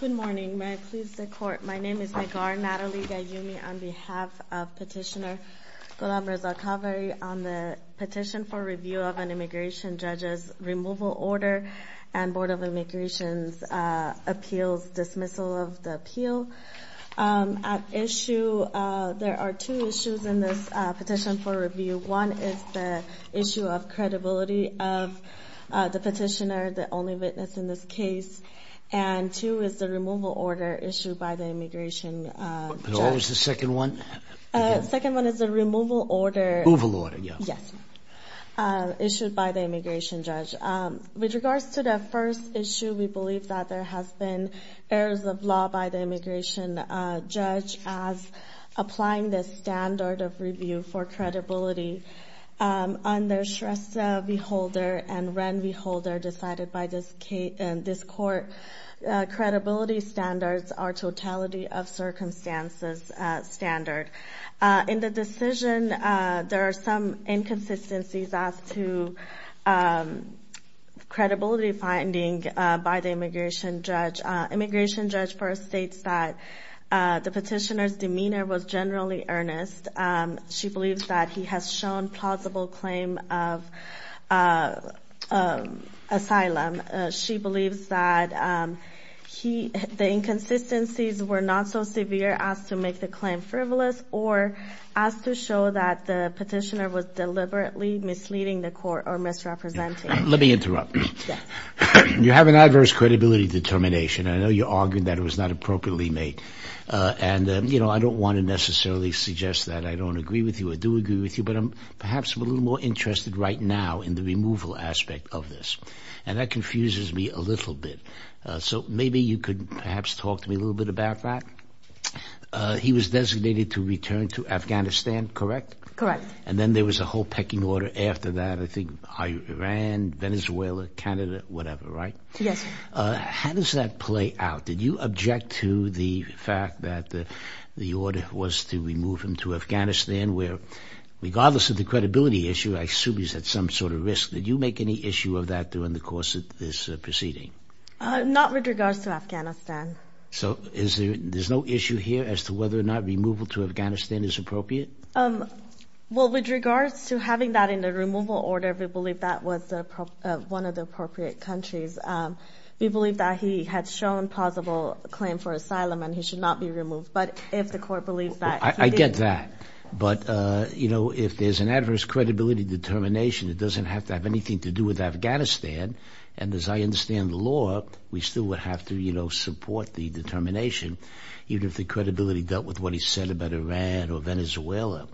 Good morning. May I please the court? My name is Megar Natalie Gayumi on behalf of Petitioner Gullam Reza Khavari on the petition for review of an immigration judge's removal order and Board of Immigration Appeals dismissal of the appeal. At issue, there are two issues in this case. The petitioner, the only witness in this case, and two is the removal order issued by the immigration judge. What was the second one? The second one is the removal order. Removal order, yes. Issued by the immigration judge. With regards to the first issue, we believe that there has been errors of law by the immigration judge as applying this standard of review for credibility under Shrestha V. Holder and Ren V. Holder decided by this court. Credibility standards are totality of circumstances standard. In the decision, there are some inconsistencies as to credibility finding by the immigration judge. Immigration judge first states that the petitioner's demeanor was generally earnest. She believes that he has shown plausible claim of asylum. She believes that the inconsistencies were not so severe as to make the claim frivolous or as to show that the petitioner was deliberately misleading the court or misrepresenting. Let me interrupt. You have an adverse credibility determination. I know you argued that it was not appropriately made. I don't want to necessarily suggest that I don't agree with you. I do agree with you, but I'm perhaps a little more interested right now in the removal aspect of this. That confuses me a little bit. Maybe you could perhaps talk to me a little bit about that. He was designated to return to Afghanistan, correct? Correct. And then there was a whole pecking order after that. I think Iran, Venezuela, Canada, whatever, right? Yes. How does that play out? Did you object to the fact that the order was to remove him to Afghanistan where regardless of the credibility issue, I assume he's at some sort of risk. Did you make any issue of that during the course of this proceeding? Not with regards to Afghanistan. So there's no issue here as to whether or not removal to Afghanistan is appropriate? Well, with regards to having that in the removal order, we believe that was one of the appropriate countries. We believe that he had shown plausible claim for asylum and he should not be removed. But if the court believes that... I get that. But if there's an adverse credibility determination, it doesn't have to have anything to do with Afghanistan. And as I understand the law, we still would have to support the determination, even if the credibility dealt with what he said about Iran or Venezuela.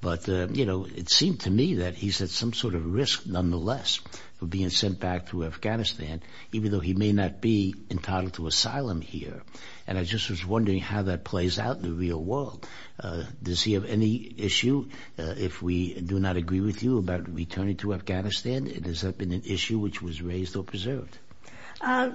But it seemed to me that he's at some sort of risk nonetheless of being sent back to Afghanistan, even though he may not be entitled to asylum here. And I just was wondering how that plays out in the real world. Does he have any issue, if we do not agree with you, about returning to Afghanistan? And has that been an issue which was raised or preserved?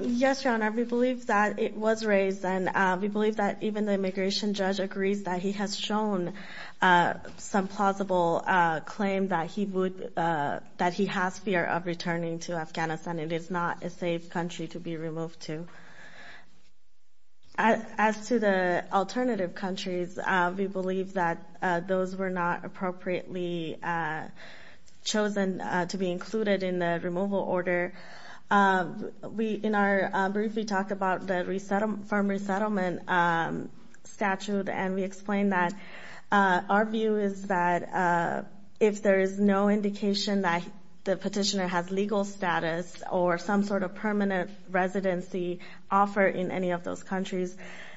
Yes, Your Honor, we believe that it was raised. And we believe that even the immigration judge agrees that he has shown some plausible claim that he would that he has fear of returning to Afghanistan. It is not a safe country to be removed to. As to the alternative countries, we believe that those were not appropriately chosen to be included in the removal order. In our brief, we talked about the farm resettlement statute, and we explained that our view is that if there is no indication that the petitioner has legal status or some sort of permanent residency offer in any of those countries,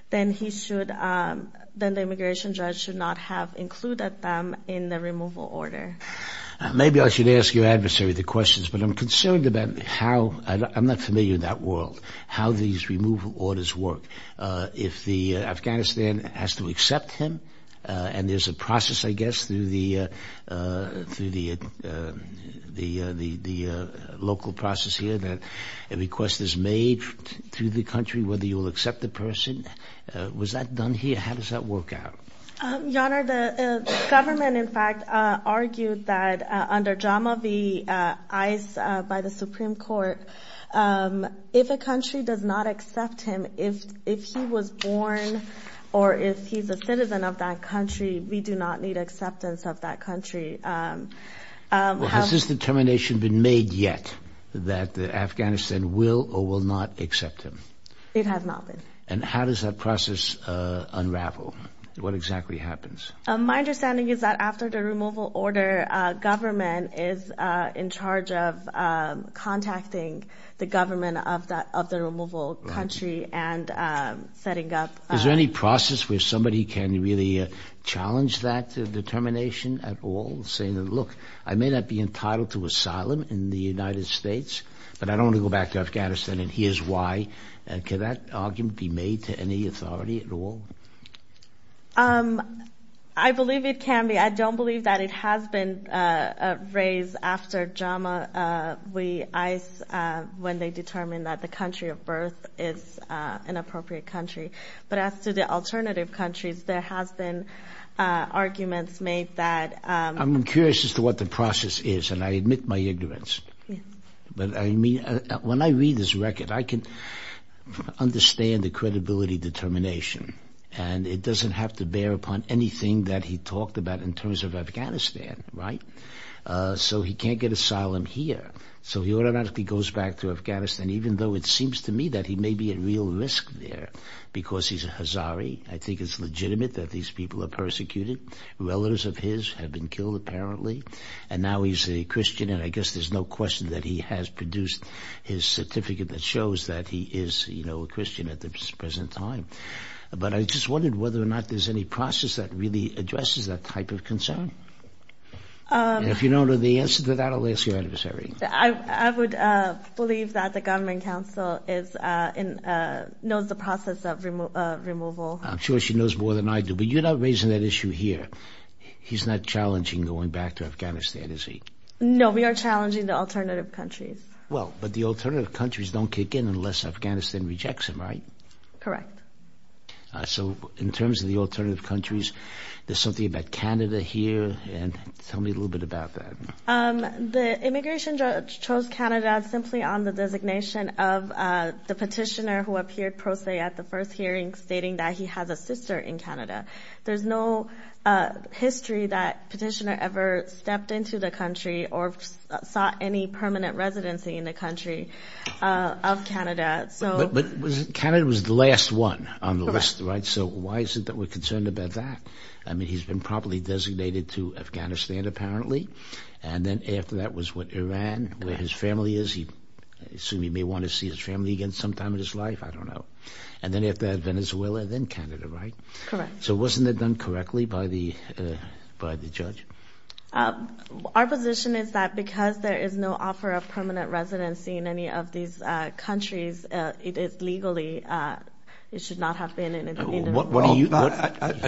then he should, then the immigration judge should not have included them in the removal order. Maybe I should ask your adversary the questions, but I'm concerned about how, I'm not familiar in that world, how these removal orders work. If the Afghanistan has to accept him, and there's a process, I guess, through the local process here that a request is made through the country whether you'll accept the person. Was that done here? How does that work out? Your Honor, the government, in fact, argued that under JAMA v. ICE by the Supreme Court, if a country does not accept him, if he was born or if he's a citizen of that country, we do not need acceptance of that country. Has this determination been made yet that Afghanistan will or will not accept him? It has not been. How does that process unravel? What exactly happens? My understanding is that after the removal order, government is in charge of contacting the government of the removal country and setting up. Is there any process where somebody can really challenge that determination at all, saying, look, I may not be entitled to asylum in the United States, but I don't want to go back to Afghanistan and here's why. Can that argument be made to any authority at all? I believe it can be. I don't believe that it has been raised after JAMA v. ICE when they determined that the country of birth is an appropriate country. But as to the alternative countries, there has been arguments made that... I'm curious as to what the process is, and I admit my ignorance. But I mean, when I read this record, I can understand the credibility determination. And it doesn't have to bear upon anything that he talked about in terms of Afghanistan, right? So he can't get asylum here. So he automatically goes back to Afghanistan, even though it seems to me that he may be at real risk there because he's a Hazari. I think it's legitimate that these people are persecuted. Relatives of his have been killed, apparently, and now he's a Christian. And I guess there's no question that he has produced his certificate that shows that he is a Christian at this present time. But I just wondered whether or not there's any process that really addresses that type of concern. And if you don't know the answer to that, I'll ask your adversary. I would believe that the government council knows the process of removal. I'm sure she knows more than I do. But you're not raising that issue here. He's not challenging going back to Afghanistan, is he? No, we are challenging the alternative countries. Well, but the alternative countries don't kick in unless Afghanistan rejects them, right? Correct. So in terms of the alternative countries, there's something about Canada here. And tell me a little bit about that. The immigration judge chose Canada simply on the designation of the petitioner who appeared pro se at the first hearing stating that he has a sister in Canada. There's no history that petitioner ever stepped into the country or sought any permanent residency in the country of Canada. But Canada was the last one on the list, right? Correct. So why is it that we're concerned about that? I mean, he's been properly designated to Afghanistan, apparently. And then after that was what, Iran, where his family is. He assumed he may want to see his family again sometime in his life. I don't know. And then after that, Venezuela, then Canada, right? Correct. So wasn't it done correctly by the judge? Our position is that because there is no offer of permanent residency in any of these countries, it is legally, it should not have been. I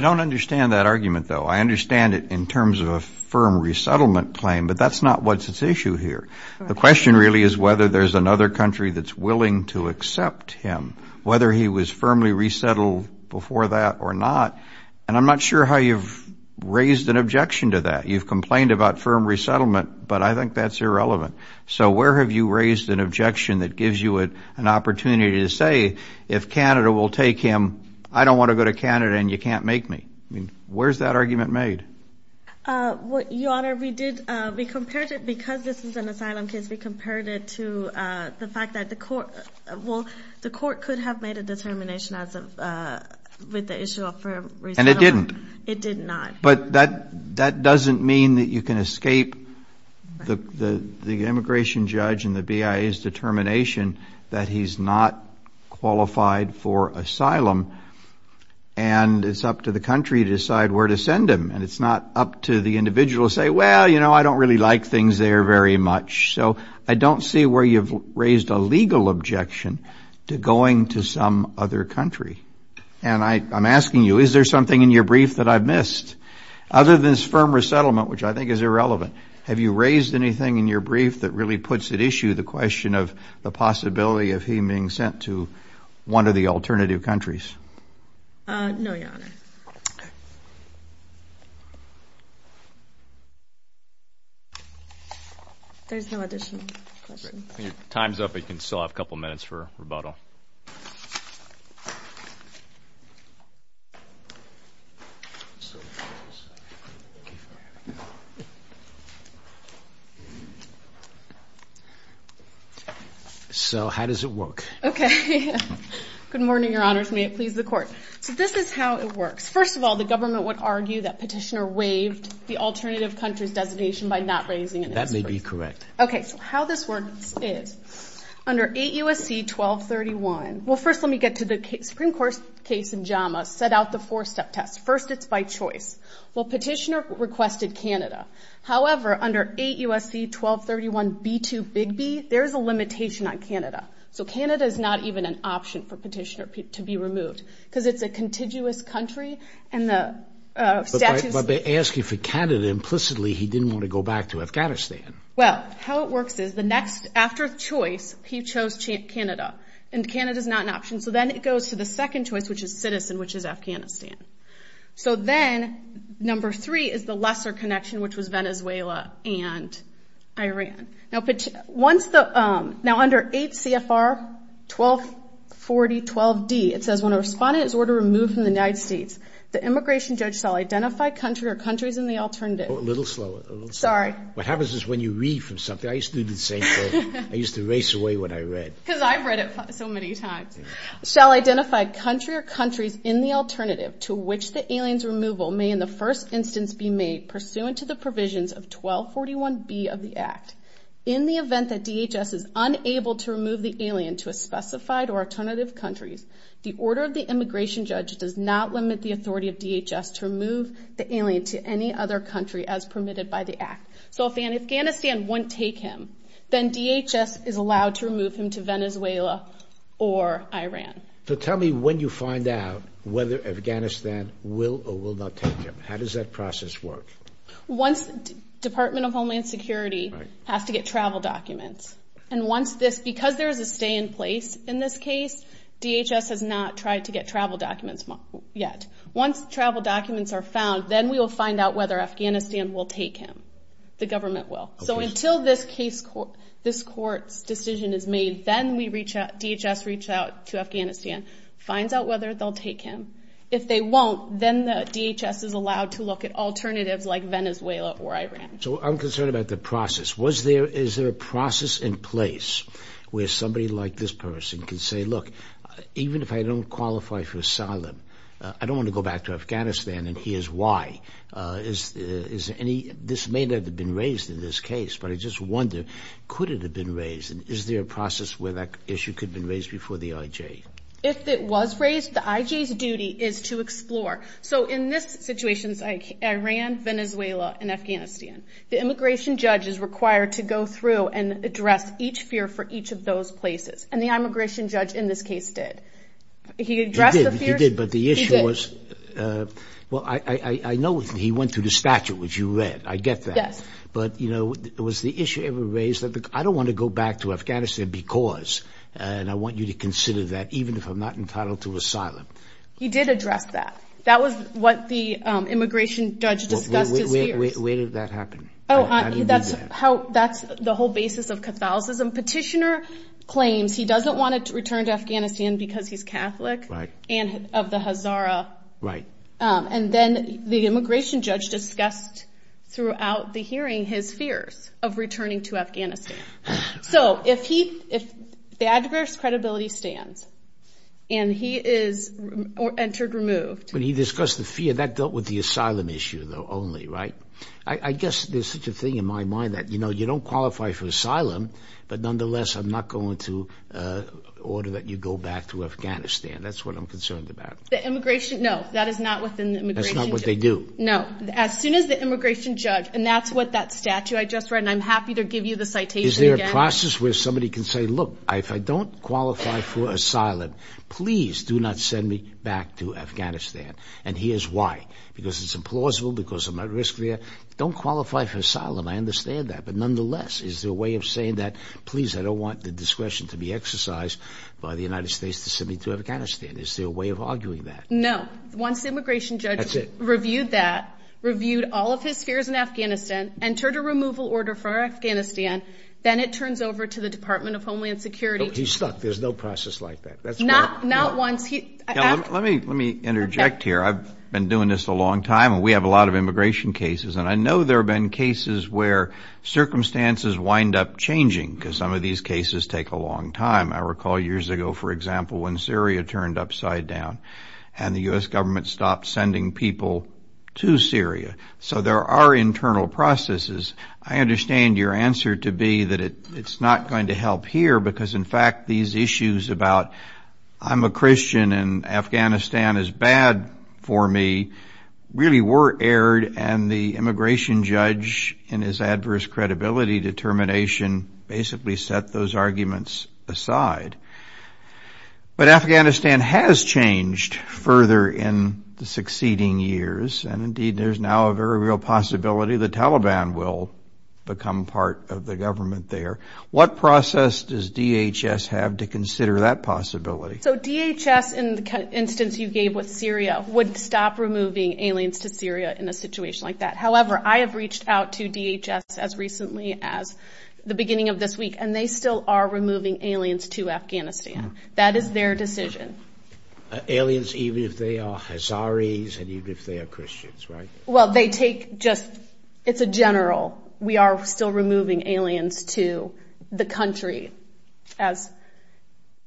don't understand that argument, though. I understand it in terms of a firm resettlement claim, but that's not what's at issue here. The question really is whether there's another country that's willing to accept him, whether he was firmly resettled before that or not. And I'm not sure how you've raised an objection to that. You've complained about firm resettlement, but I think that's irrelevant. So where have you raised an objection that gives you an opportunity to say, if Canada will take him, I don't want to go to Canada and you can't make me? I mean, where is that argument made? Your Honor, we did, we compared it, because this is an asylum case, we compared it to the fact that the court, well, the court could have made a determination with the issue of firm resettlement. And it didn't? It did not. But that doesn't mean that you can escape the immigration judge and the BIA's determination that he's not qualified for asylum and it's up to the country to decide where to send him. And it's not up to the individual to say, well, you know, I don't really like things there very much. So I don't see where you've raised a legal objection to going to some other country. And I'm asking you, is there something in your brief that I've missed? Other than this firm resettlement, which I think is irrelevant, have you raised anything in your brief that really puts at issue the question of the possibility of him being sent to one of the alternative countries? No, Your Honor. There's no additional questions. Your time's up. You can still have a couple minutes for rebuttal. So how does it work? Okay. Good morning, Your Honors. May it please the Court. So this is how it works. First of all, the government would argue that Petitioner waived the alternative country's designation by not raising it. That may be correct. Okay. So how this works is, under 8 U.S.C. 1231, well, first let me get to the Supreme Court's case in JAMA, set out the four-step test. First, it's by choice. Well, Petitioner requested Canada. However, under 8 U.S.C. 1231 B-2 Big B, there's a limitation on Canada. So Canada is not even an option for Petitioner to be removed because it's a contiguous country and the statutes... But by asking for Canada, implicitly he didn't want to go back to Afghanistan. Well, how it works is, after choice, he chose Canada, and Canada is not an option. So then it goes to the second choice, which is citizen, which is Afghanistan. So then, number three is the lesser connection, which was Venezuela and Iran. Now, under 8 CFR 1240-12D, it says, when a respondent is ordered to remove from the United States, the immigration judge shall identify country or countries in the alternative. A little slower. Sorry. What happens is when you read from something, I used to do the same thing. I used to erase away what I read. Because I've read it so many times. Shall identify country or countries in the alternative to which the alien's removal may, in the first instance, be made pursuant to the provisions of 1241 B of the Act. In the event that DHS is unable to remove the alien to a specified or alternative countries, the order of the immigration judge does not limit the authority of DHS to remove the alien to any other country as permitted by the Act. So if Afghanistan won't take him, then DHS is allowed to remove him to Venezuela or Iran. So tell me when you find out whether Afghanistan will or will not take him. How does that process work? Once Department of Homeland Security has to get travel documents, because there is a stay in place in this case, DHS has not tried to get travel documents yet. Once travel documents are found, then we will find out whether Afghanistan will take him. The government will. So until this court's decision is made, then DHS reaches out to Afghanistan, finds out whether they'll take him. If they won't, then DHS is allowed to look at alternatives like Venezuela or Iran. So I'm concerned about the process. Is there a process in place where somebody like this person can say, look, even if I don't qualify for asylum, I don't want to go back to Afghanistan, and here's why. This may not have been raised in this case, but I just wonder, could it have been raised? Is there a process where that issue could have been raised before the IJ? If it was raised, the IJ's duty is to explore. The immigration judge is required to go through and address each fear for each of those places, and the immigration judge in this case did. He addressed the fears. He did, but the issue was, well, I know he went through the statute, which you read. I get that. Yes. But, you know, was the issue ever raised? I don't want to go back to Afghanistan because, and I want you to consider that, even if I'm not entitled to asylum. He did address that. That was what the immigration judge discussed his fears. Where did that happen? Oh, that's the whole basis of Catholicism. Petitioner claims he doesn't want to return to Afghanistan because he's Catholic and of the Hazara. Right. And then the immigration judge discussed throughout the hearing his fears of returning to Afghanistan. So if the adverse credibility stands and he is entered, removed. When he discussed the fear, that dealt with the asylum issue, though, only, right? I guess there's such a thing in my mind that, you know, you don't qualify for asylum, but nonetheless I'm not going to order that you go back to Afghanistan. That's what I'm concerned about. The immigration, no, that is not within the immigration. That's not what they do. No. As soon as the immigration judge, and that's what that statute I just read, and I'm happy to give you the citation again. Is there a process where somebody can say, look, if I don't qualify for asylum, please do not send me back to Afghanistan. And here's why. Because it's implausible, because I'm at risk there. Don't qualify for asylum. I understand that. But nonetheless, is there a way of saying that, please, I don't want the discretion to be exercised by the United States to send me to Afghanistan. Is there a way of arguing that? No. Once the immigration judge reviewed that, reviewed all of his fears in Afghanistan, entered a removal order for Afghanistan, then it turns over to the Department of Homeland Security. He's stuck. There's no process like that. Not once. Let me interject here. I've been doing this a long time, and we have a lot of immigration cases. And I know there have been cases where circumstances wind up changing, because some of these cases take a long time. I recall years ago, for example, when Syria turned upside down and the U.S. government stopped sending people to Syria. So there are internal processes. I understand your answer to be that it's not going to help here, because in fact these issues about I'm a Christian and Afghanistan is bad for me really were aired, and the immigration judge in his adverse credibility determination basically set those arguments aside. But Afghanistan has changed further in the succeeding years, and indeed there's now a very real possibility the Taliban will become part of the government there. What process does DHS have to consider that possibility? So DHS, in the instance you gave with Syria, would stop removing aliens to Syria in a situation like that. However, I have reached out to DHS as recently as the beginning of this week, and they still are removing aliens to Afghanistan. That is their decision. Aliens, even if they are Hazaris and even if they are Christians, right? Well, they take just, it's a general. We are still removing aliens to the country, as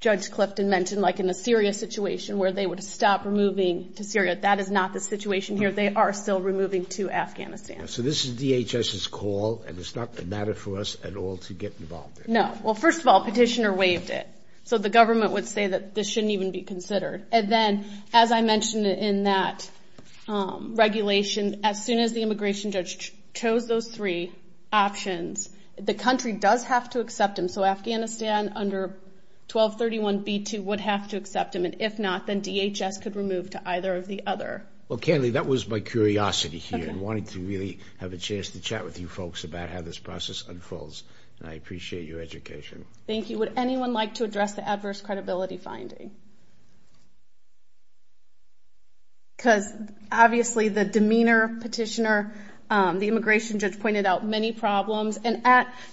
Judge Clifton mentioned, like in a serious situation where they would stop removing to Syria. That is not the situation here. They are still removing to Afghanistan. So this is DHS's call, and it's not a matter for us at all to get involved in. No. Well, first of all, Petitioner waived it. So the government would say that this shouldn't even be considered. And then, as I mentioned in that regulation, as soon as the immigration judge chose those three options, the country does have to accept them. So Afghanistan under 1231b2 would have to accept them. And if not, then DHS could remove to either of the other. Well, Candie, that was my curiosity here, and I wanted to really have a chance to chat with you folks about how this process unfolds. And I appreciate your education. Thank you. Next, would anyone like to address the adverse credibility finding? Because obviously the demeanor of Petitioner, the immigration judge pointed out many problems. And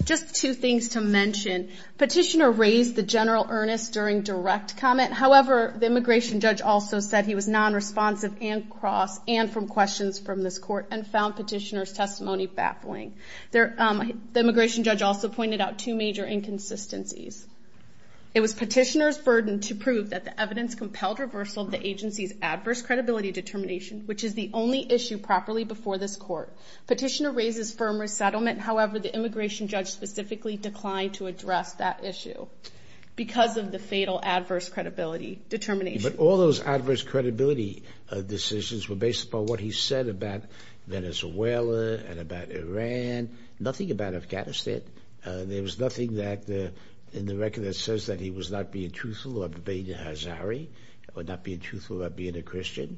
just two things to mention. Petitioner raised the general earnest during direct comment. However, the immigration judge also said he was nonresponsive and cross and from questions from this court and found Petitioner's testimony baffling. The immigration judge also pointed out two major inconsistencies. It was Petitioner's burden to prove that the evidence compelled reversal of the agency's adverse credibility determination, which is the only issue properly before this court. Petitioner raises firm resettlement. However, the immigration judge specifically declined to address that issue because of the fatal adverse credibility determination. But all those adverse credibility decisions were based upon what he said about Venezuela and about Iran, nothing about Afghanistan. There was nothing in the record that says that he was not being truthful or debating Hazari or not being truthful or being a Christian.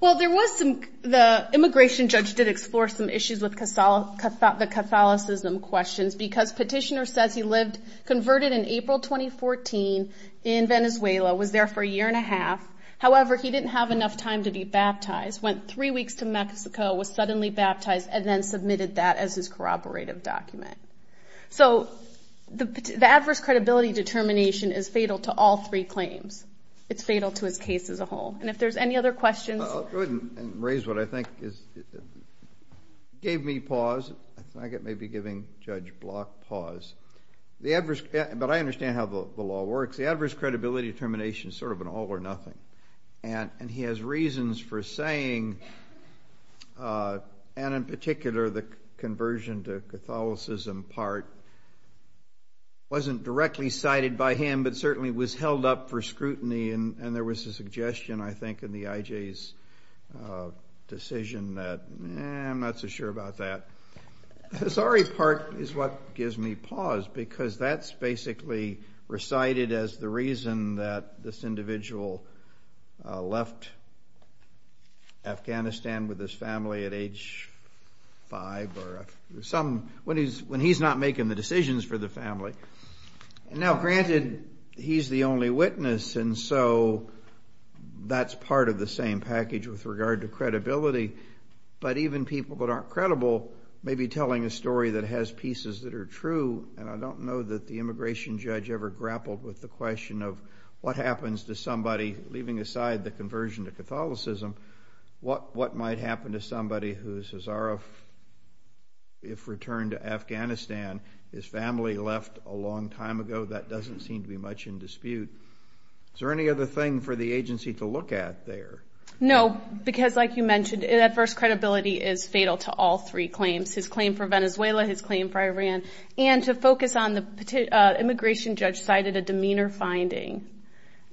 Well, the immigration judge did explore some issues with the Catholicism questions because Petitioner says he lived, converted in April 2014 in Venezuela, was there for a year and a half. However, he didn't have enough time to be baptized, went three weeks to Mexico, was suddenly baptized, and then submitted that as his corroborative document. So the adverse credibility determination is fatal to all three claims. It's fatal to his case as a whole. And if there's any other questions. I'll go ahead and raise what I think gave me pause. I think it may be giving Judge Block pause. But I understand how the law works. The adverse credibility determination is sort of an all or nothing. And he has reasons for saying, and in particular the conversion to Catholicism part, wasn't directly cited by him but certainly was held up for scrutiny. And there was a suggestion, I think, in the IJ's decision that, eh, I'm not so sure about that. The Hazari part is what gives me pause because that's basically recited as the reason that this individual left Afghanistan with his family at age five when he's not making the decisions for the family. Now, granted, he's the only witness, and so that's part of the same package with regard to credibility. But even people that aren't credible may be telling a story that has pieces that are true. And I don't know that the immigration judge ever grappled with the question of what happens to somebody, leaving aside the conversion to Catholicism, and his family left a long time ago, that doesn't seem to be much in dispute. Is there any other thing for the agency to look at there? No, because like you mentioned, adverse credibility is fatal to all three claims, his claim for Venezuela, his claim for Iran. And to focus on the immigration judge cited a demeanor finding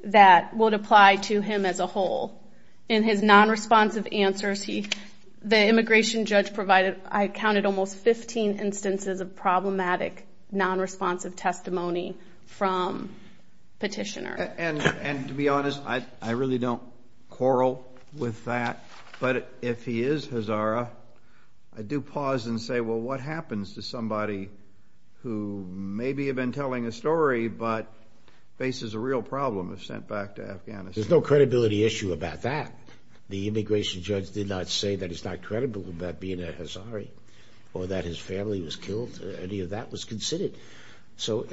that would apply to him as a whole. In his non-responsive answers, the immigration judge provided, I counted almost 15 instances of problematic non-responsive testimony from petitioners. And to be honest, I really don't quarrel with that. But if he is Hazara, I do pause and say, well, what happens to somebody who maybe had been telling a story but faces a real problem if sent back to Afghanistan? There's no credibility issue about that. The immigration judge did not say that he's not credible about being a Hazari or that his family was killed. Any of that was considered. So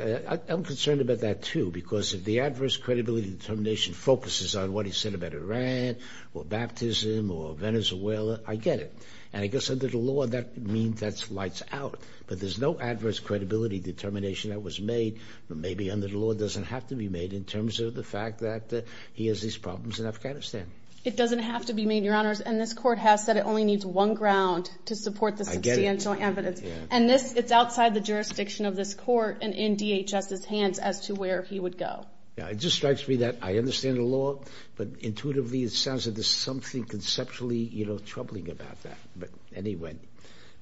I'm concerned about that, too, because if the adverse credibility determination focuses on what he said about Iran or baptism or Venezuela, I get it. And I guess under the law, that means that lights out. But there's no adverse credibility determination that was made, but maybe under the law it doesn't have to be made in terms of the fact that he has these problems in Afghanistan. It doesn't have to be made, Your Honors, and this Court has said it only needs one ground to support the substantial evidence. And it's outside the jurisdiction of this Court and in DHS's hands as to where he would go. It just strikes me that I understand the law, but intuitively it sounds like there's something conceptually troubling about that. But anyway,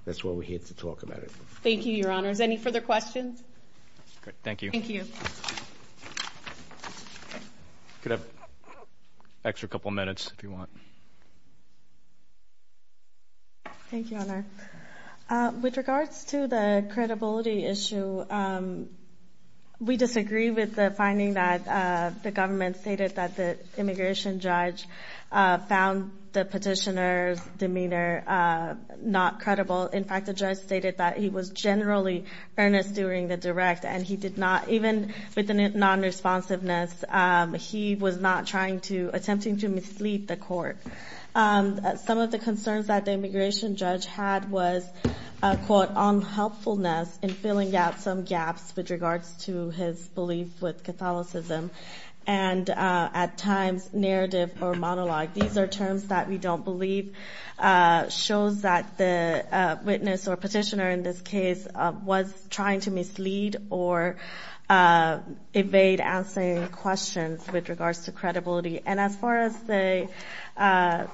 that's why we're here to talk about it. Any further questions? Thank you. Thank you. You can have an extra couple minutes if you want. Thank you, Honor. With regards to the credibility issue, we disagree with the finding that the government stated that the immigration judge found the petitioner's demeanor not credible. In fact, the judge stated that he was generally earnest during the direct, and he did not, even with the non-responsiveness, he was not attempting to mislead the Court. Some of the concerns that the immigration judge had was, quote, unhelpfulness in filling out some gaps with regards to his belief with Catholicism, and at times narrative or monologue. These are terms that we don't believe. It shows that the witness or petitioner in this case was trying to mislead or evade answering questions with regards to credibility. And as far as the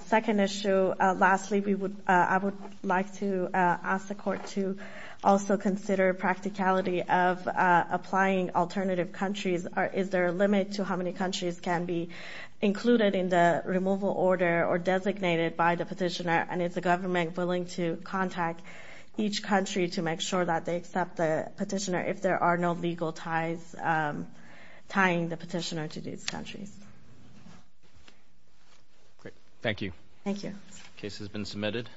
second issue, lastly, I would like to ask the Court to also consider practicality of applying alternative countries. Is there a limit to how many countries can be included in the removal order or designated by the petitioner? And is the government willing to contact each country to make sure that they accept the petitioner if there are no legal ties tying the petitioner to these countries? Great. Thank you. Thank you. The case has been submitted.